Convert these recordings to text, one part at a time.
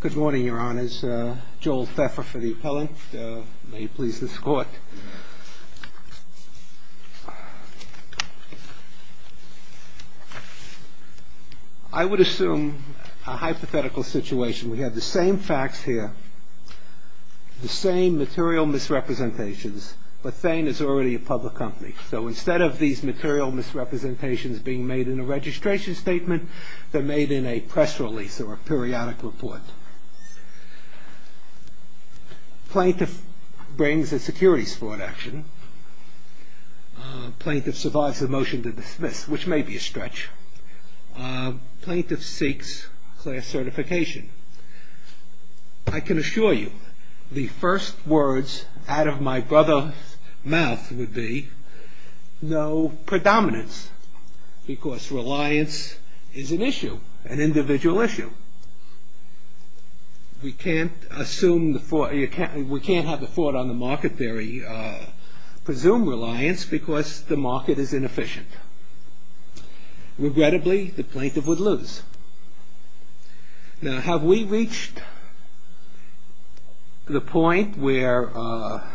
Good morning, your honors. Joel Pfeffer for the appellant. May you please escort. I would assume a hypothetical situation. We have the same facts here, the same material misrepresentations, but Thane is already a public company. So instead of these material misrepresentations being made in a registration statement, they're made in a press release or a periodic report. Plaintiff brings a securities fraud action. Plaintiff survives a motion to dismiss, which may be a stretch. Plaintiff seeks class certification. I can assure you the first words out of my brother's mouth would be, no predominance, because reliance is an issue, an individual issue. We can't have the thought on the market theory presume reliance because the market is inefficient. Regrettably, the plaintiff would lose. Now have we reached the point where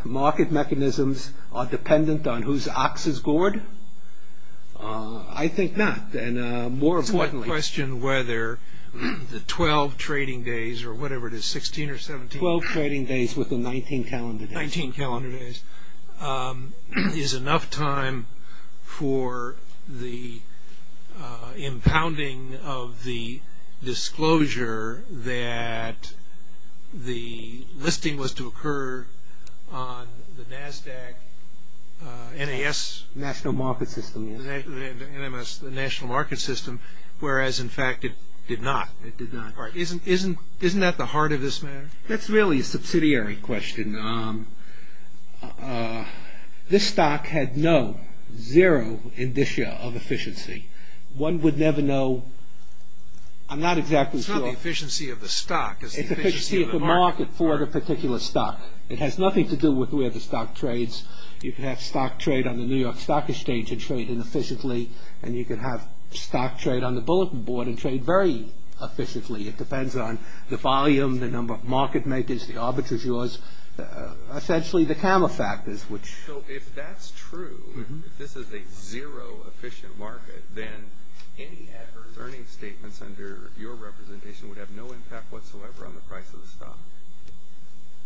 market mechanisms are dependent on whose ox is gored? I think not. More importantly, the 12 trading days or whatever it is, 16 or 17, 12 trading days with the 19 calendar days, 19 calendar days is enough time for the impounding of the disclosure that the listing was to occur on the NASDAQ, the National Market System, whereas in fact it did not. Isn't that the heart of this matter? That's really a subsidiary question. This is a question of the efficiency of the stock. It's the efficiency of the market for the particular stock. It has nothing to do with where the stock trades. You can have stock trade on the New York Stock Exchange and trade inefficiently, and you can have stock trade on the bulletin board and trade very efficiently. It depends on the volume, the number of market makers, the arbitrageurs, essentially the camera factors. So if that's true, if this is a zero-efficient market, then any adverse earnings statements under your representation would have no impact whatsoever on the price of the stock.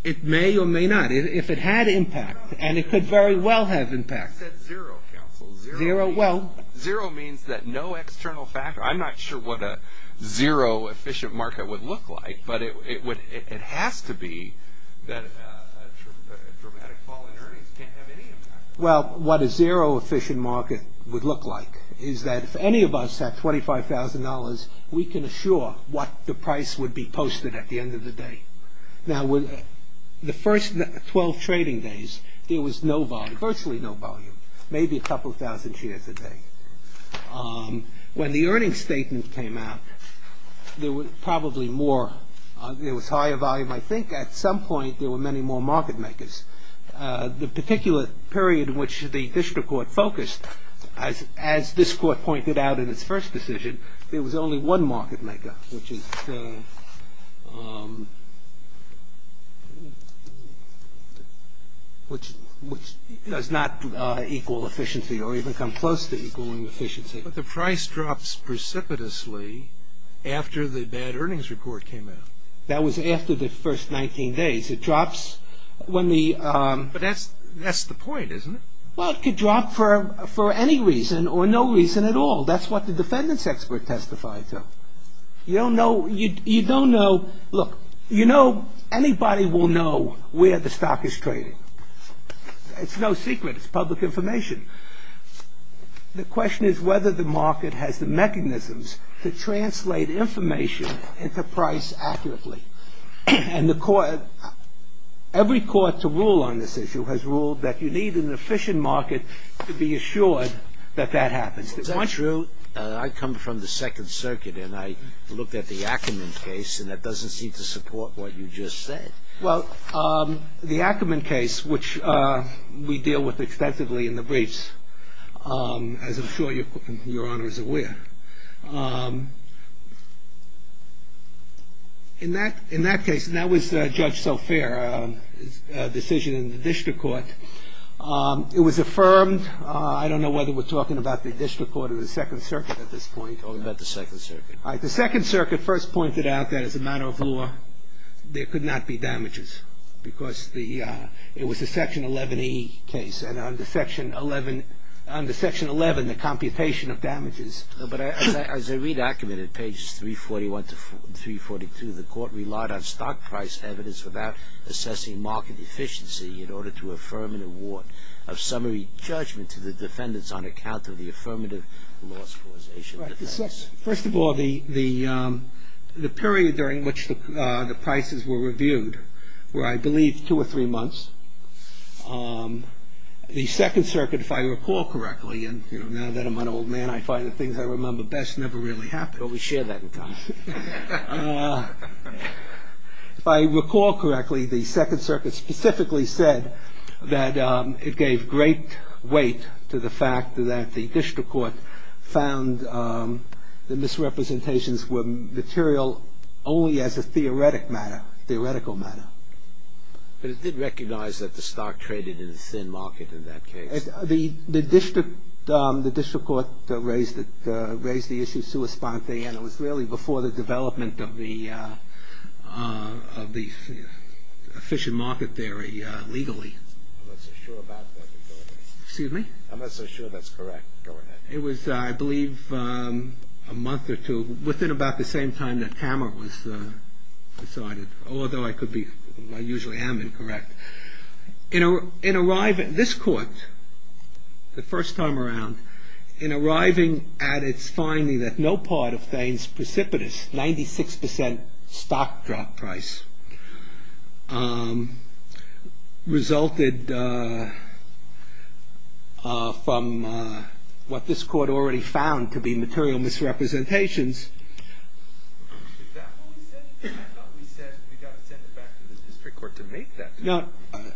It may or may not. If it had impact, and it could very well have impact. You said zero, counsel. Zero means that no external factor. I'm not sure what a zero-efficient market would look like, but it has to be that dramatic fall in earnings. It can't have any impact. Well, what a zero-efficient market would look like is that if any of us had $25,000, we can assure what the price would be posted at the end of the day. Now, the first 12 trading days, there was no volume, virtually no volume, maybe a couple thousand shares a day. When the earnings statement came out, there was higher volume, I think. At some point, there were many more market makers. The particular period in which the district court focused, as this court pointed out in its first decision, there was only one market maker, which is the, which does not equal efficiency or even come close to equaling efficiency. But the price drops precipitously after the bad earnings report came out. That was after the first 19 days. It drops when the... But that's the point, isn't it? Well, it could drop for any reason or no reason at all. That's what the defendant's expert testified to. You don't know, you don't know, look, you know, anybody will know where the stock is trading. It's no secret. It's public information. The question is whether the market has the mechanisms to translate information into price accurately. And the court, every court to rule on this issue has ruled that you need an efficient market to be assured that that happens. Is that true? I come from the Second Circuit, and I looked at the Ackerman case, and that doesn't seem to support what you just said. Well, the Ackerman case, which we deal with extensively in the briefs, as I'm sure Your Honor is aware, in that case, and that was Judge Sofair's decision in the district court, it was affirmed, I don't know whether we're talking about the district court or the Second Circuit at this point. Or about the Second Circuit. The Second Circuit first pointed out that as a matter of law, there could not be damages because the, it was a Section 11E case, and under Section 11, under Section 11, the computation of damages. But as I read Ackerman at pages 341 to 342, the court relied on stock price evidence without assessing market efficiency in order to affirm an award of summary judgment to the defendants on account of the affirmative loss causation. First of all, the period during which the prices were reviewed were, I believe, two or three months. The Second Circuit, if I recall correctly, and now that I'm an old man, I find the things I remember best never really happen. Well, we share that in common. If I recall correctly, the Second Circuit specifically said that it gave great weight to the fact that the district court found the misrepresentations were material only as a theoretic matter, theoretical matter. But it did recognize that the stock traded in a thin market in that case. The district court raised the issue sui spontane, and it was really before the development of the efficient market theory legally. I'm not so sure about that. Excuse me? I'm not so sure that's correct. Go ahead. It was, I believe, a month or two within about the same time that Tammer was decided, although I could be, I usually am incorrect. In arriving, this court, the first time around, in arriving at its finding that no part of the 6% stock drop price resulted from what this court already found to be material misrepresentations. Is that what we said? I thought we said we got to send it back to the district court to make that determination.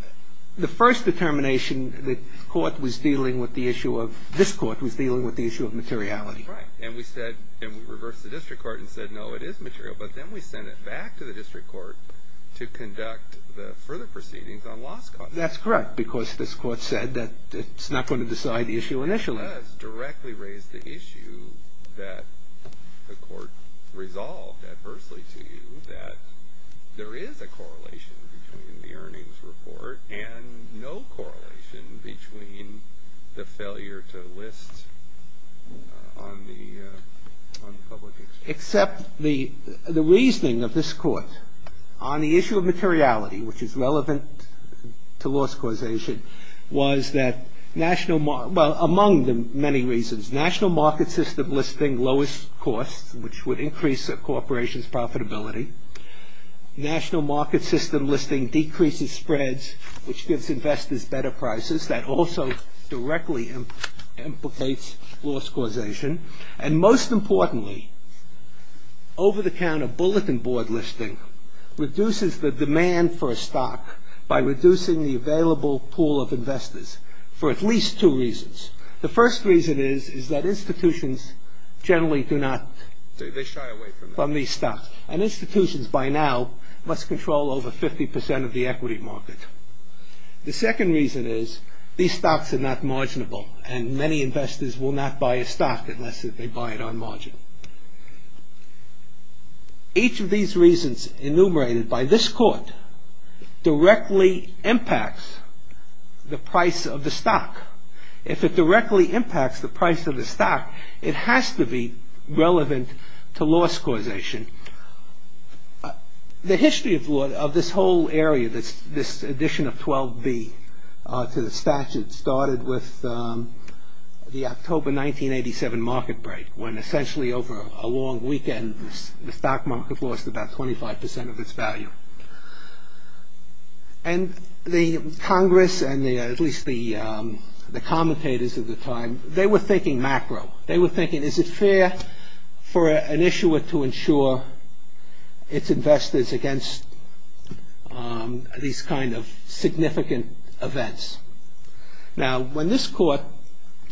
The first determination, the court was dealing with the issue of, this court was dealing with the issue of materiality. Right. And we said, and we reversed the district court and said, no, it is material. But then we sent it back to the district court to conduct the further proceedings on loss costs. That's correct, because this court said that it's not going to decide the issue initially. It does directly raise the issue that the court resolved adversely to you that there is a correlation between the earnings report and no correlation between the failure to accept the reasoning of this court on the issue of materiality, which is relevant to loss causation, was that national, well, among the many reasons, national market system listing lowest costs, which would increase a corporation's profitability. National market system listing decreases spreads, which gives investors better prices. That also directly implicates loss causation. And most importantly, over-the-counter bulletin board listing reduces the demand for a stock by reducing the available pool of investors for at least two reasons. The first reason is that institutions generally do not, they shy away from these stocks. And institutions by now must control over 50 percent of the equity market. The second reason is these stocks are not marginable and many investors will not buy a stock unless they buy it on margin. Each of these reasons enumerated by this court directly impacts the price of the stock. If it directly impacts the price of the stock, it has to be relevant to loss causation. The history of this whole area, this addition of 12B to the statute started with the October 1987 market break, when essentially over a long weekend, the stock market lost about 25 percent of its value. And the Congress, and at least the commentators at the time, they were thinking macro. They were thinking, is it fair for an issuer to insure its investors against these kind of significant events? Now, when this court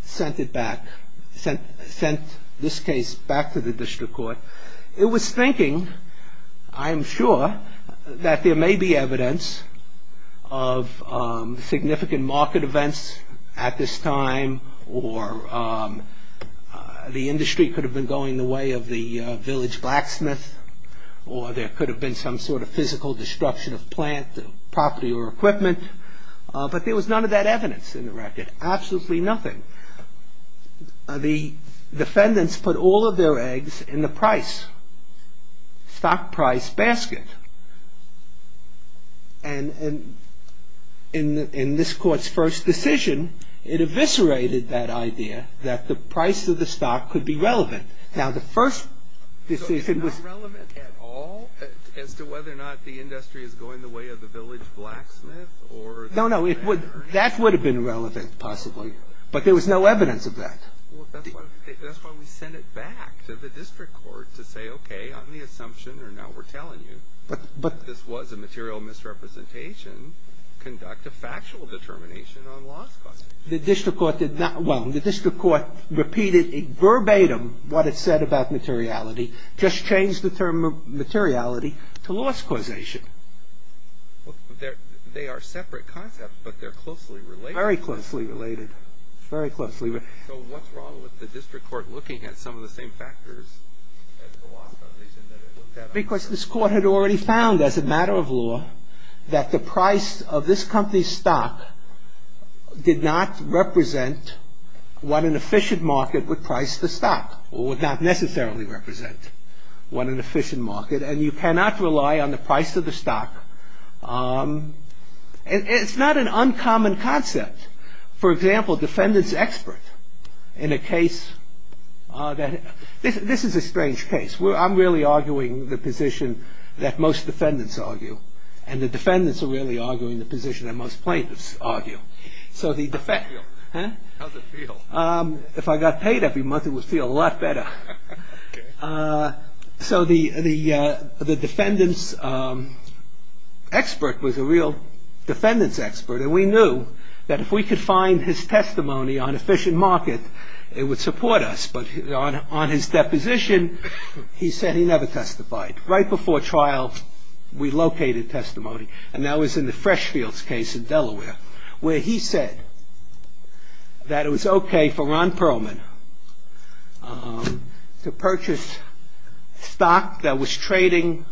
sent it back, sent this case back to the district court, it was thinking, I am sure, that there may be evidence of significant market events at this time, or the industry could have been going the way of the village blacksmith, or there could have been some sort of physical destruction of plant, property, or equipment. But there was none of that evidence in the record, absolutely nothing. The defendants put all of their eggs in the price, stock price basket. And in this court's first decision, it eviscerated that idea that the price of the stock could be relevant. So it's not relevant at all, as to whether or not the industry is going the way of the village blacksmith? No, no, that would have been relevant, possibly. But there was no evidence of that. Well, that's why we sent it back to the district court, to say, okay, on the assumption, or now we're telling you, that this was a material misrepresentation, conduct a factual determination on loss costs. The district court did not, well, the district court repeated verbatim what it said about materiality, just changed the term materiality to loss causation. They are separate concepts, but they're closely related. Very closely related. Very closely related. So what's wrong with the district court looking at some of the same factors as the loss causation that it looked at? Because this court had already found, as a matter of law, that the price of this company's stock did not represent what an efficient market would price the stock, or would not necessarily represent what an efficient market, and you cannot rely on the price of the stock. It's not an uncommon concept. For example, defendant's expert in a case that, this is a strange case. I'm really arguing the position that most defendants argue, and the defendants are really arguing the position that most plaintiffs argue. How does it feel? Huh? How does it feel? If I got paid every month, it would feel a lot better. So the defendant's expert was a real defendant's expert, and we knew that if we could find his testimony on efficient market, it would support us. But on his deposition, he said he never testified. Right before trial, we located testimony, and that was in the Freshfields case in Delaware, where he said that it was OK for Ron Perlman to purchase stock that was trading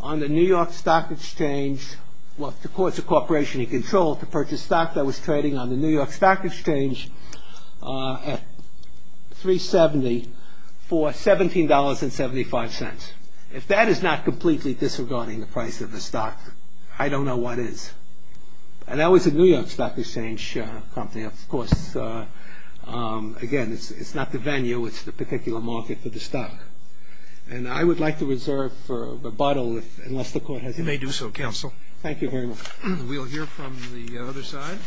on the New York Stock Exchange, well, the courts of corporation in control, to purchase stock that was trading on the New York Stock Exchange at $3.70 for $17.75. If that is not completely disregarding the price of the stock, I don't know what is. And that was a New York Stock Exchange company. Of course, again, it's not the venue, it's the particular market for the stock. And I would like to reserve a rebuttal, unless the Court has any. You may do so, Counsel. Thank you very much. We'll hear from the other side.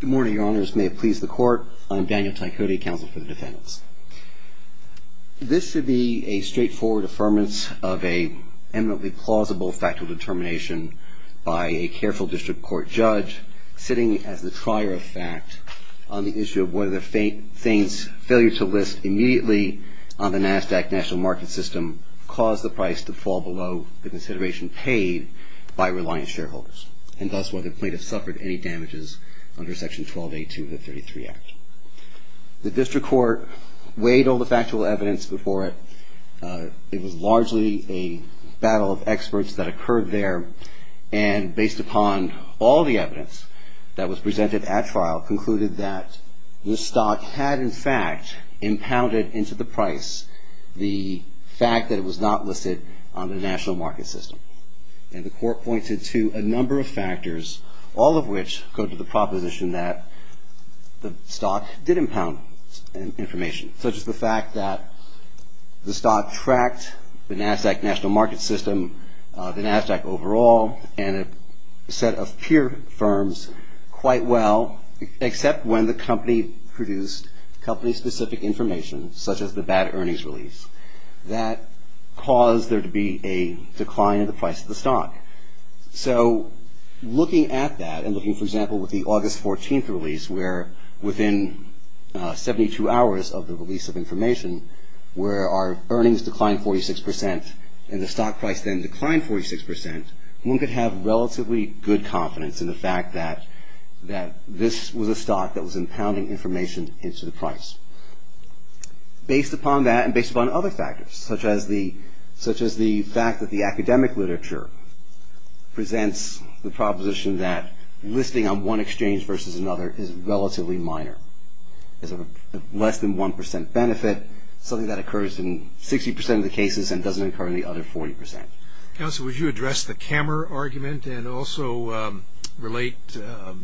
Good morning, Your Honors. May it please the Court. I'm Daniel Taikode, Counsel for the Defendants. This should be a straightforward affirmance of an eminently plausible factual determination by a careful district court judge, sitting as the trier of fact on the issue of whether Thain's failure to list immediately on the NASDAQ National Market System caused the price to fall below the consideration paid by reliant shareholders, and thus whether plaintiffs suffered any damages under Section 1282 of the 33 Act. The district court weighed all the factual evidence before it. It was largely a battle of experts that occurred there, and based upon all the evidence that included that the stock had, in fact, impounded into the price the fact that it was not listed on the National Market System. And the Court pointed to a number of factors, all of which go to the proposition that the stock did impound information, such as the fact that the stock tracked the NASDAQ National Except when the company produced company-specific information, such as the bad earnings release, that caused there to be a decline in the price of the stock. So looking at that, and looking, for example, with the August 14th release, where within 72 hours of the release of information, where our earnings declined 46% and the stock price then declined 46%, one could have relatively good confidence in the fact that this was a stock that was impounding information into the price. Based upon that, and based upon other factors, such as the fact that the academic literature presents the proposition that listing on one exchange versus another is relatively minor, is of less than 1% benefit, something that occurs in 60% of the cases and doesn't occur in the other 40%. Counsel, would you address the Kammer argument and also relate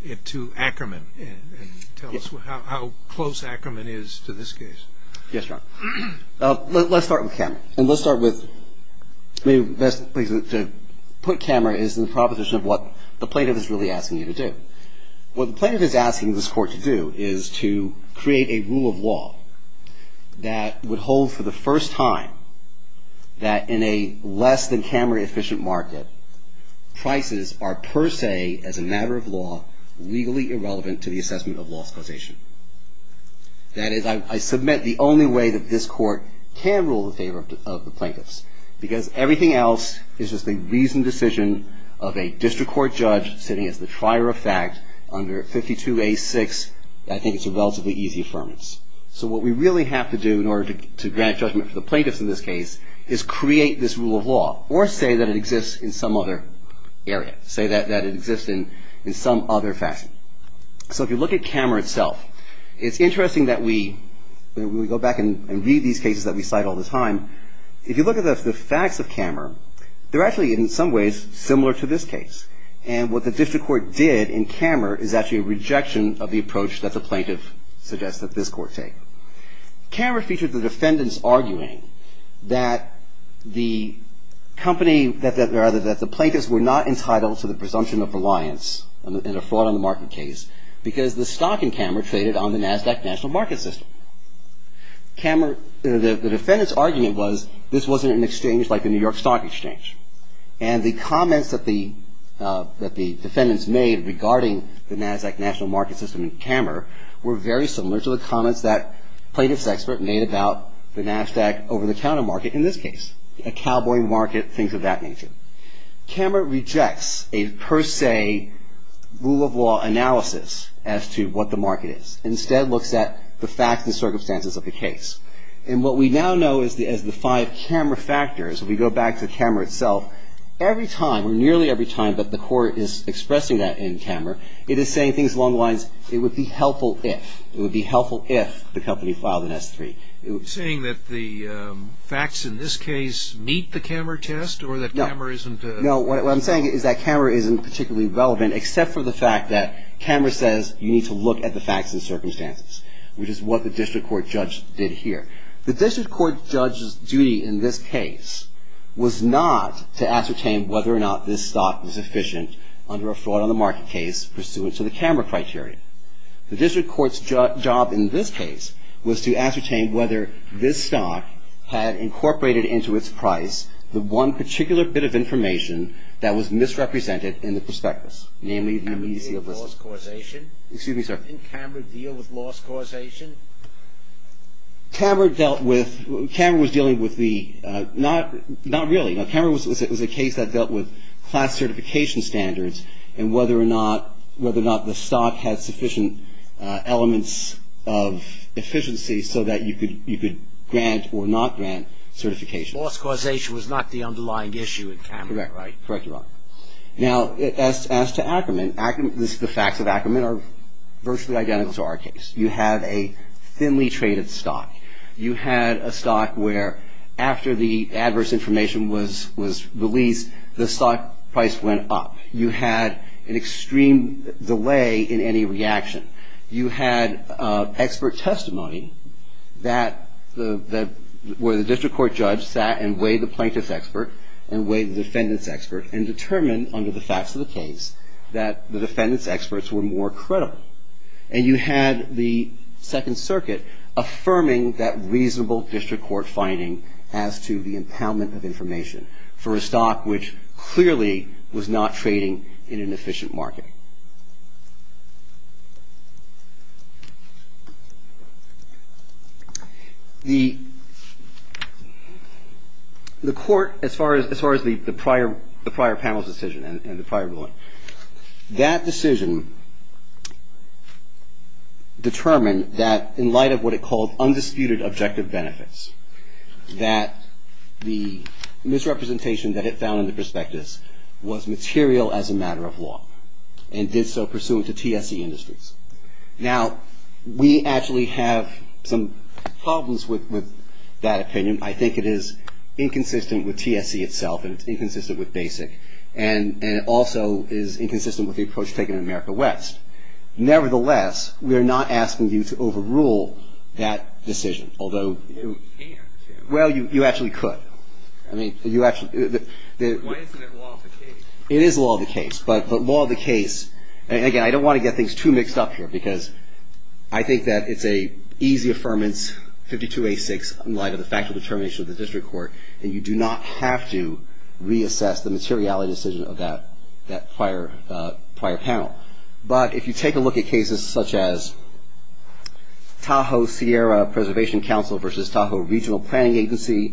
it to Ackerman and tell us how close Ackerman is to this case? Yes, John. Let's start with Kammer. And let's start with, maybe best place to put Kammer is in the proposition of what the plaintiff is really asking you to do. What the plaintiff is asking this Court to do is to create a rule of law that would hold for the first time that in a less than Kammer efficient market, prices are per se, as a matter of law, legally irrelevant to the assessment of law's causation. That is, I submit the only way that this Court can rule in favor of the plaintiffs, because everything else is just a reasoned decision of a district court judge sitting as the trier of fact under 52A6, I think it's a relatively easy affirmance. So what we really have to do in order to grant judgment for the plaintiffs in this case is create this rule of law, or say that it exists in some other area, say that it exists in some other fashion. So if you look at Kammer itself, it's interesting that we go back and read these cases that we cite all the time. If you look at the facts of Kammer, they're actually in some ways similar to this case. And what the district court did in Kammer is actually a rejection of the approach that this Court took. Kammer featured the defendants arguing that the plaintiffs were not entitled to the presumption of reliance in a fraud on the market case because the stock in Kammer traded on the NASDAQ National Market System. The defendants' argument was this wasn't an exchange like the New York Stock Exchange. And the comments that the defendants made regarding the NASDAQ National Market System in Kammer were very similar to the comments that plaintiffs' expert made about the NASDAQ over-the-counter market in this case, a cowboy market, things of that nature. Kammer rejects a per se rule of law analysis as to what the market is, and instead looks at the facts and circumstances of the case. And what we now know as the five Kammer factors, if we go back to Kammer itself, every time or nearly every time that the Court is expressing that in Kammer, it is saying things along the lines, it would be helpful if, it would be helpful if the company filed an S-3. Saying that the facts in this case meet the Kammer test or that Kammer isn't... No, what I'm saying is that Kammer isn't particularly relevant except for the fact that Kammer says you need to look at the facts and circumstances, which is what the District Court judge did here. The District Court judge's duty in this case was not to ascertain whether or not this stock was efficient under a fraud on the market case pursuant to the Kammer criteria. The District Court's job in this case was to ascertain whether this stock had incorporated into its price the one particular bit of information that was misrepresented in the prospectus, namely the immediacy of listing. Didn't Kammer deal with loss causation? Excuse me, sir. Didn't Kammer deal with loss causation? Kammer dealt with, Kammer was dealing with the, not really, no, Kammer was a case that dealt with class certification standards and whether or not, whether or not the stock had sufficient elements of efficiency so that you could grant or not grant certification. Loss causation was not the underlying issue in Kammer, right? Correct, correct, Your Honor. Now, as to Ackerman, Ackerman, the facts of Ackerman are virtually identical to our case. You have a thinly traded stock. You had a stock where after the adverse information was released, the stock price went up. You had an extreme delay in any reaction. You had expert testimony that, where the District Court judge sat and weighed the plaintiff's expert and weighed the defendant's expert and determined, under the facts of the case, that the defendant's experts were more credible. And you had the Second Circuit affirming that reasonable District Court finding as to the impoundment of information for a stock which clearly was not trading in an efficient market. The Court, as far as the prior panel's decision and the prior ruling, that decision was not fair, determined that, in light of what it called undisputed objective benefits, that the misrepresentation that it found in the prospectus was material as a matter of law and did so pursuant to TSE industries. Now, we actually have some problems with that opinion. I think it is inconsistent with TSE itself and it's inconsistent with BASIC, and it also is inconsistent with the approach taken in America West. Nevertheless, we are not asking you to overrule that decision, although you actually could. It is law of the case, but law of the case, and again, I don't want to get things too mixed up here, because I think that it's an easy affirmance, 52A6, in light of the factual determination of the District Court, and you do not have to reassess the materiality decision of that prior panel. But if you take a look at cases such as Tahoe-Sierra Preservation Council versus Tahoe Regional Planning Agency,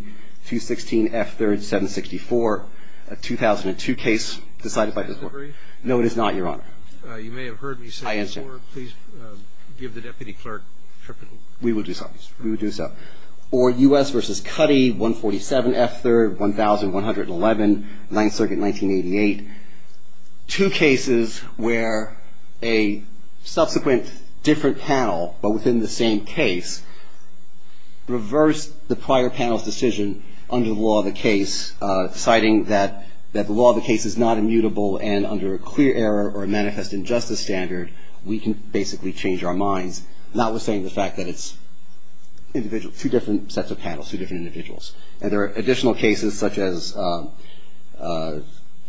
216 F. 3rd, 764, a 2002 case decided by this Court. Is this a brief? No, it is not, Your Honor. You may have heard me say this before. I understand. Please give the Deputy Clerk a tripod. We will do so. We will do so. Or U.S. versus Cuddy, 147 F. 3rd, 1111, 9th Circuit, 1988, two cases where a subsequent different panel, but within the same case, reversed the prior panel's decision under the law of the case, citing that the law of the case is not immutable, and under a clear error or a manifest injustice standard, we can basically change our minds, notwithstanding the fact that it's two different sets of panels, two different individuals. And there are additional cases such as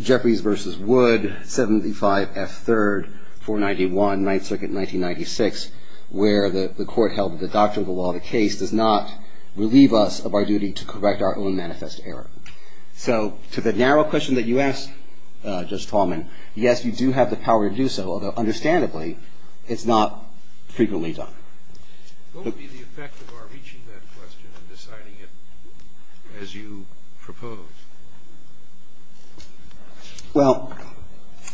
Jeffries versus Wood, 75 F. 3rd, 491, 9th Circuit, 1996, where the Court held that the doctrine of the law of the case does not relieve us of our duty to correct our own manifest error. So to the narrow question that you asked, Judge Tallman, yes, you do have the power to do so, although, understandably, it's not frequently done. What would be the effect of our reaching that question and deciding it as you propose? Well,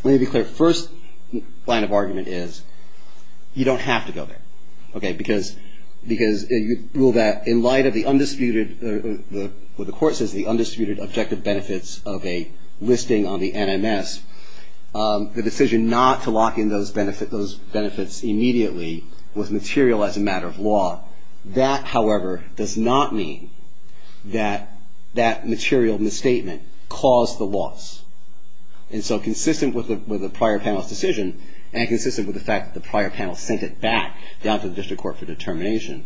let me be clear. First line of argument is you don't have to go there, okay, because you rule that in light of the undisputed, what the Court says, the undisputed objective benefits of a listing on the NMS, the decision not to lock in those benefits immediately was material as a matter of law. That, however, does not mean that that material misstatement caused the loss. And so consistent with the prior panel's decision, and consistent with the fact that the prior panel sent it back down to the District Court for determination,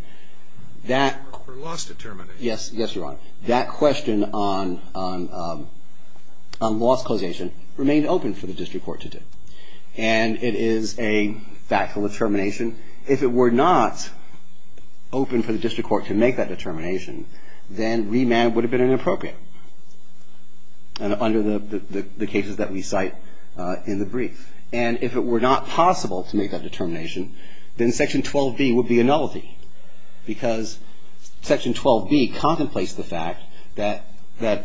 that question on loss causation remained open for the District Court to do. And it is a factual determination. If it were not open for the District Court to make that determination, then remand would have been inappropriate under the cases that we cite in the brief. And if it were not possible to make that determination, then Section 12B would be a nullity because Section 12B contemplates the fact that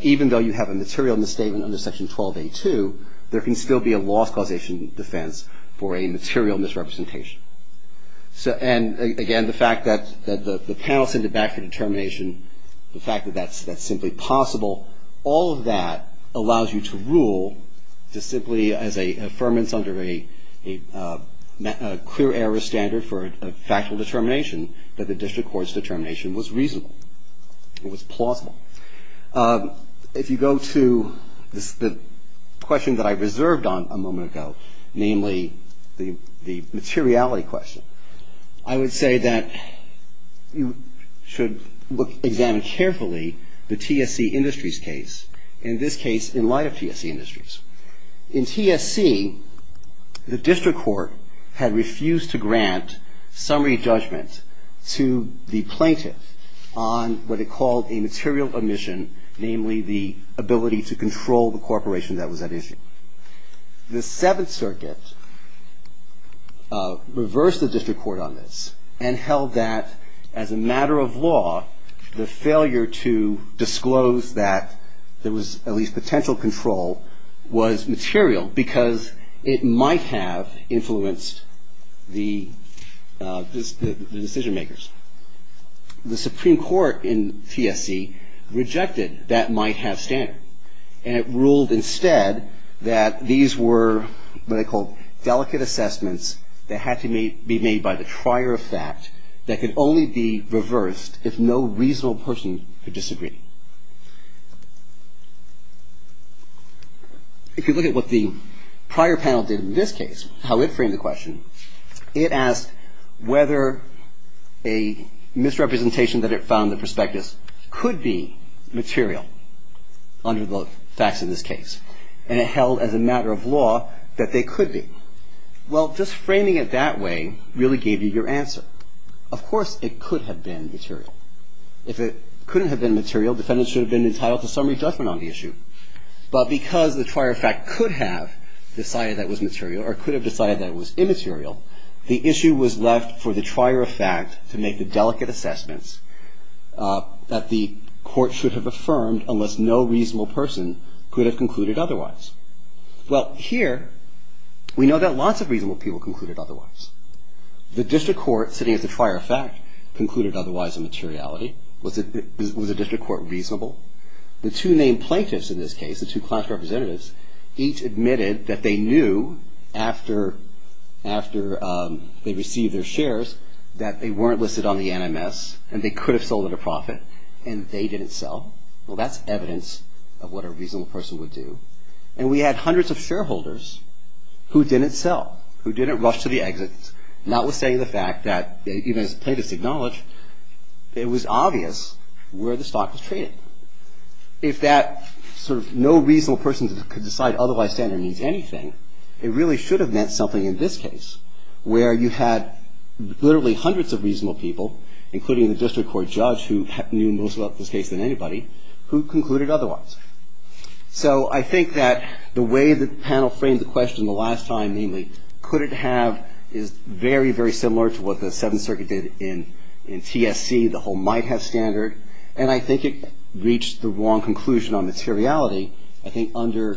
even though you have a material misstatement under Section 12A.2, there can still be a loss causation defense for a material misrepresentation. And again, the fact that the panel sent it back for determination, the fact that that's simply possible, all of that allows you to rule to simply, as a firmness under a clear error standard for a factual determination, that the District Court's determination was reasonable, it was plausible. If you go to the question that I reserved on a moment ago, namely the materiality question, I would say that you should examine carefully the TSC Industries case, in this case in light of TSC Industries. In TSC, the District Court had refused to grant summary judgment to the plaintiff on what it called a material omission, namely the ability to control the corporation that was at issue. The Seventh Circuit reversed the District Court on this and held that as a matter of fact, that this was material because it might have influenced the decision-makers. The Supreme Court in TSC rejected that might-have standard, and it ruled instead that these were what I call delicate assessments that had to be made by the trier of fact that could only be reversed if no reasonable person could disagree. If you look at what the prior panel did in this case, how it framed the question, it asked whether a misrepresentation that it found the prospectus could be material under the facts in this case, and it held as a matter of law that they could be. Well, just framing it that way really gave you your answer. Of course, it could have been material. If it couldn't have been material, defendants should have been entitled to summary judgment on the issue. But because the trier of fact could have decided that it was material or could have decided that it was immaterial, the issue was left for the trier of fact to make the delicate assessments that the court should have affirmed unless no reasonable person could have concluded otherwise. Well, here we know that lots of reasonable people concluded otherwise. The District Court, sitting at the trier of fact, concluded otherwise in materiality. Was the District Court reasonable? The two named plaintiffs in this case, the two class representatives, each admitted that they knew after they received their shares that they weren't listed on the NMS and they could have sold at a profit, and they didn't sell. Well, that's evidence of what a reasonable person would do. And we had hundreds of shareholders who didn't sell, who didn't rush to the exits, notwithstanding the fact that, even as plaintiffs acknowledge, it was obvious where the stock was traded. If that sort of no reasonable person could decide otherwise standard means anything, it really should have meant something in this case, where you had literally hundreds of reasonable people, including the District Court judge who knew most about this case than anybody, who concluded otherwise. So I think that the way the panel framed the question the last time, namely, could it have is very, very similar to what the Seventh Circuit did in TSC, the whole might have standard. And I think it reached the wrong conclusion on materiality. I think under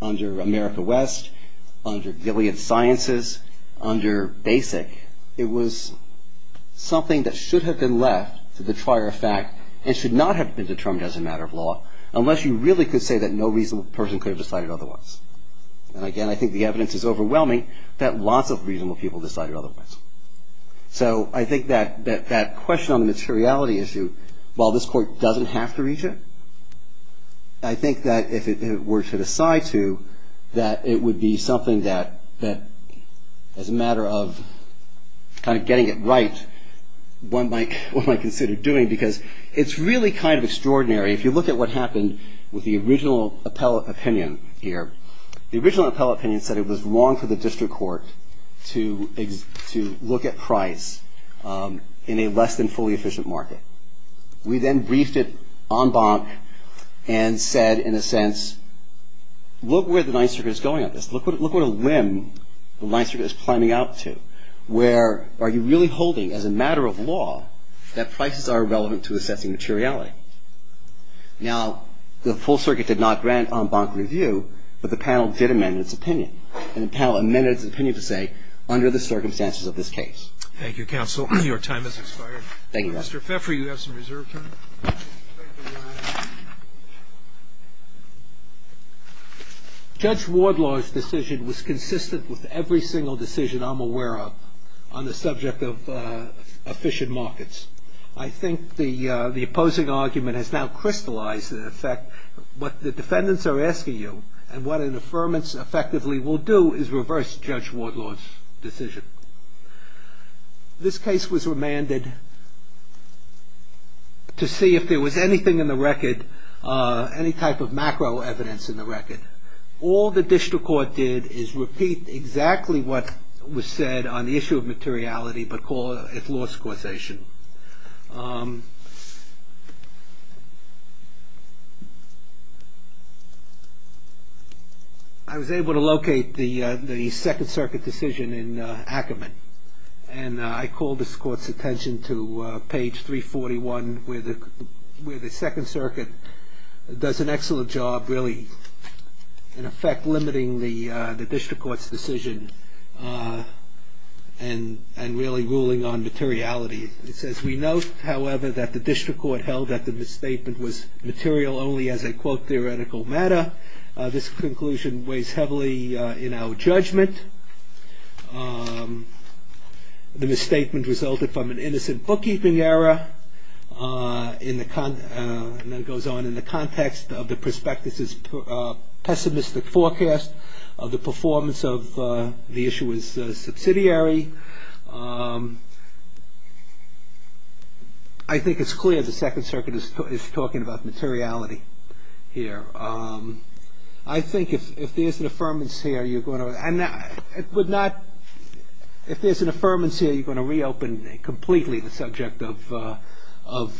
America West, under Gilead Sciences, under BASIC, it was something that should have been left to the trier of fact and should not have been determined as a matter of law, unless you really could say that no reasonable person could have decided otherwise. And again, I think the evidence is overwhelming that lots of reasonable people decided otherwise. So I think that question on the materiality issue, while this court doesn't have to reach it, I think that if it were to decide to, that it would be something that, as a matter of kind of getting it right, one might consider doing. Because it's really kind of extraordinary. If you look at what happened with the original appellate opinion here, the original appellate opinion said it was wrong for the district court to look at price in a less than fully efficient market. We then briefed it en banc and said, in a sense, look where the Ninth Circuit is going on this. Look what a limb the Ninth Circuit is climbing out to, where are you really holding as a Now, the full circuit did not grant en banc review, but the panel did amend its opinion. And the panel amended its opinion to say, under the circumstances of this case. Thank you, counsel. Your time has expired. Thank you, Your Honor. Mr. Pfeffer, you have some reserve time. Judge Wardlaw's decision was consistent with every single decision I'm aware of on the subject of efficient markets. I think the opposing argument has now crystallized, in effect, what the defendants are asking you and what an affirmance effectively will do is reverse Judge Wardlaw's decision. This case was remanded to see if there was anything in the record, any type of macro evidence in the record. All the district court did is repeat exactly what was said on the issue of materiality but call it lost causation. I was able to locate the Second Circuit decision in Ackerman, and I call this Court's attention to page 341, where the Second Circuit does an excellent job, really, in effect, limiting the district court's decision and really ruling on materiality. It says, we note, however, that the district court held that the misstatement was material only as a, quote, theoretical matter. This conclusion weighs heavily in our judgment. The misstatement resulted from an innocent bookkeeping error, and then it goes on, in the context of the prospectus's pessimistic forecast of the performance of the issuer's subsidiary. I think it's clear the Second Circuit is talking about materiality here. I think if there's an affirmance here, you're going to, and it would not, if there's an affirmance here, you're going to reopen completely the subject of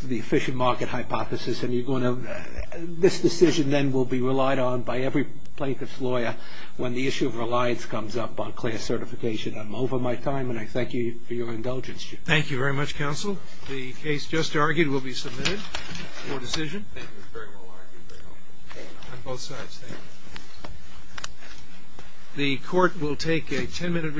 the efficient market hypothesis and you're going to, this decision then will be relied on by every plaintiff's lawyer when the issue of reliance comes up on class certification. I'm over my time, and I thank you for your indulgence, Chief. Thank you very much, Counsel. The case just argued will be submitted for decision. The Court will take a ten-minute recess.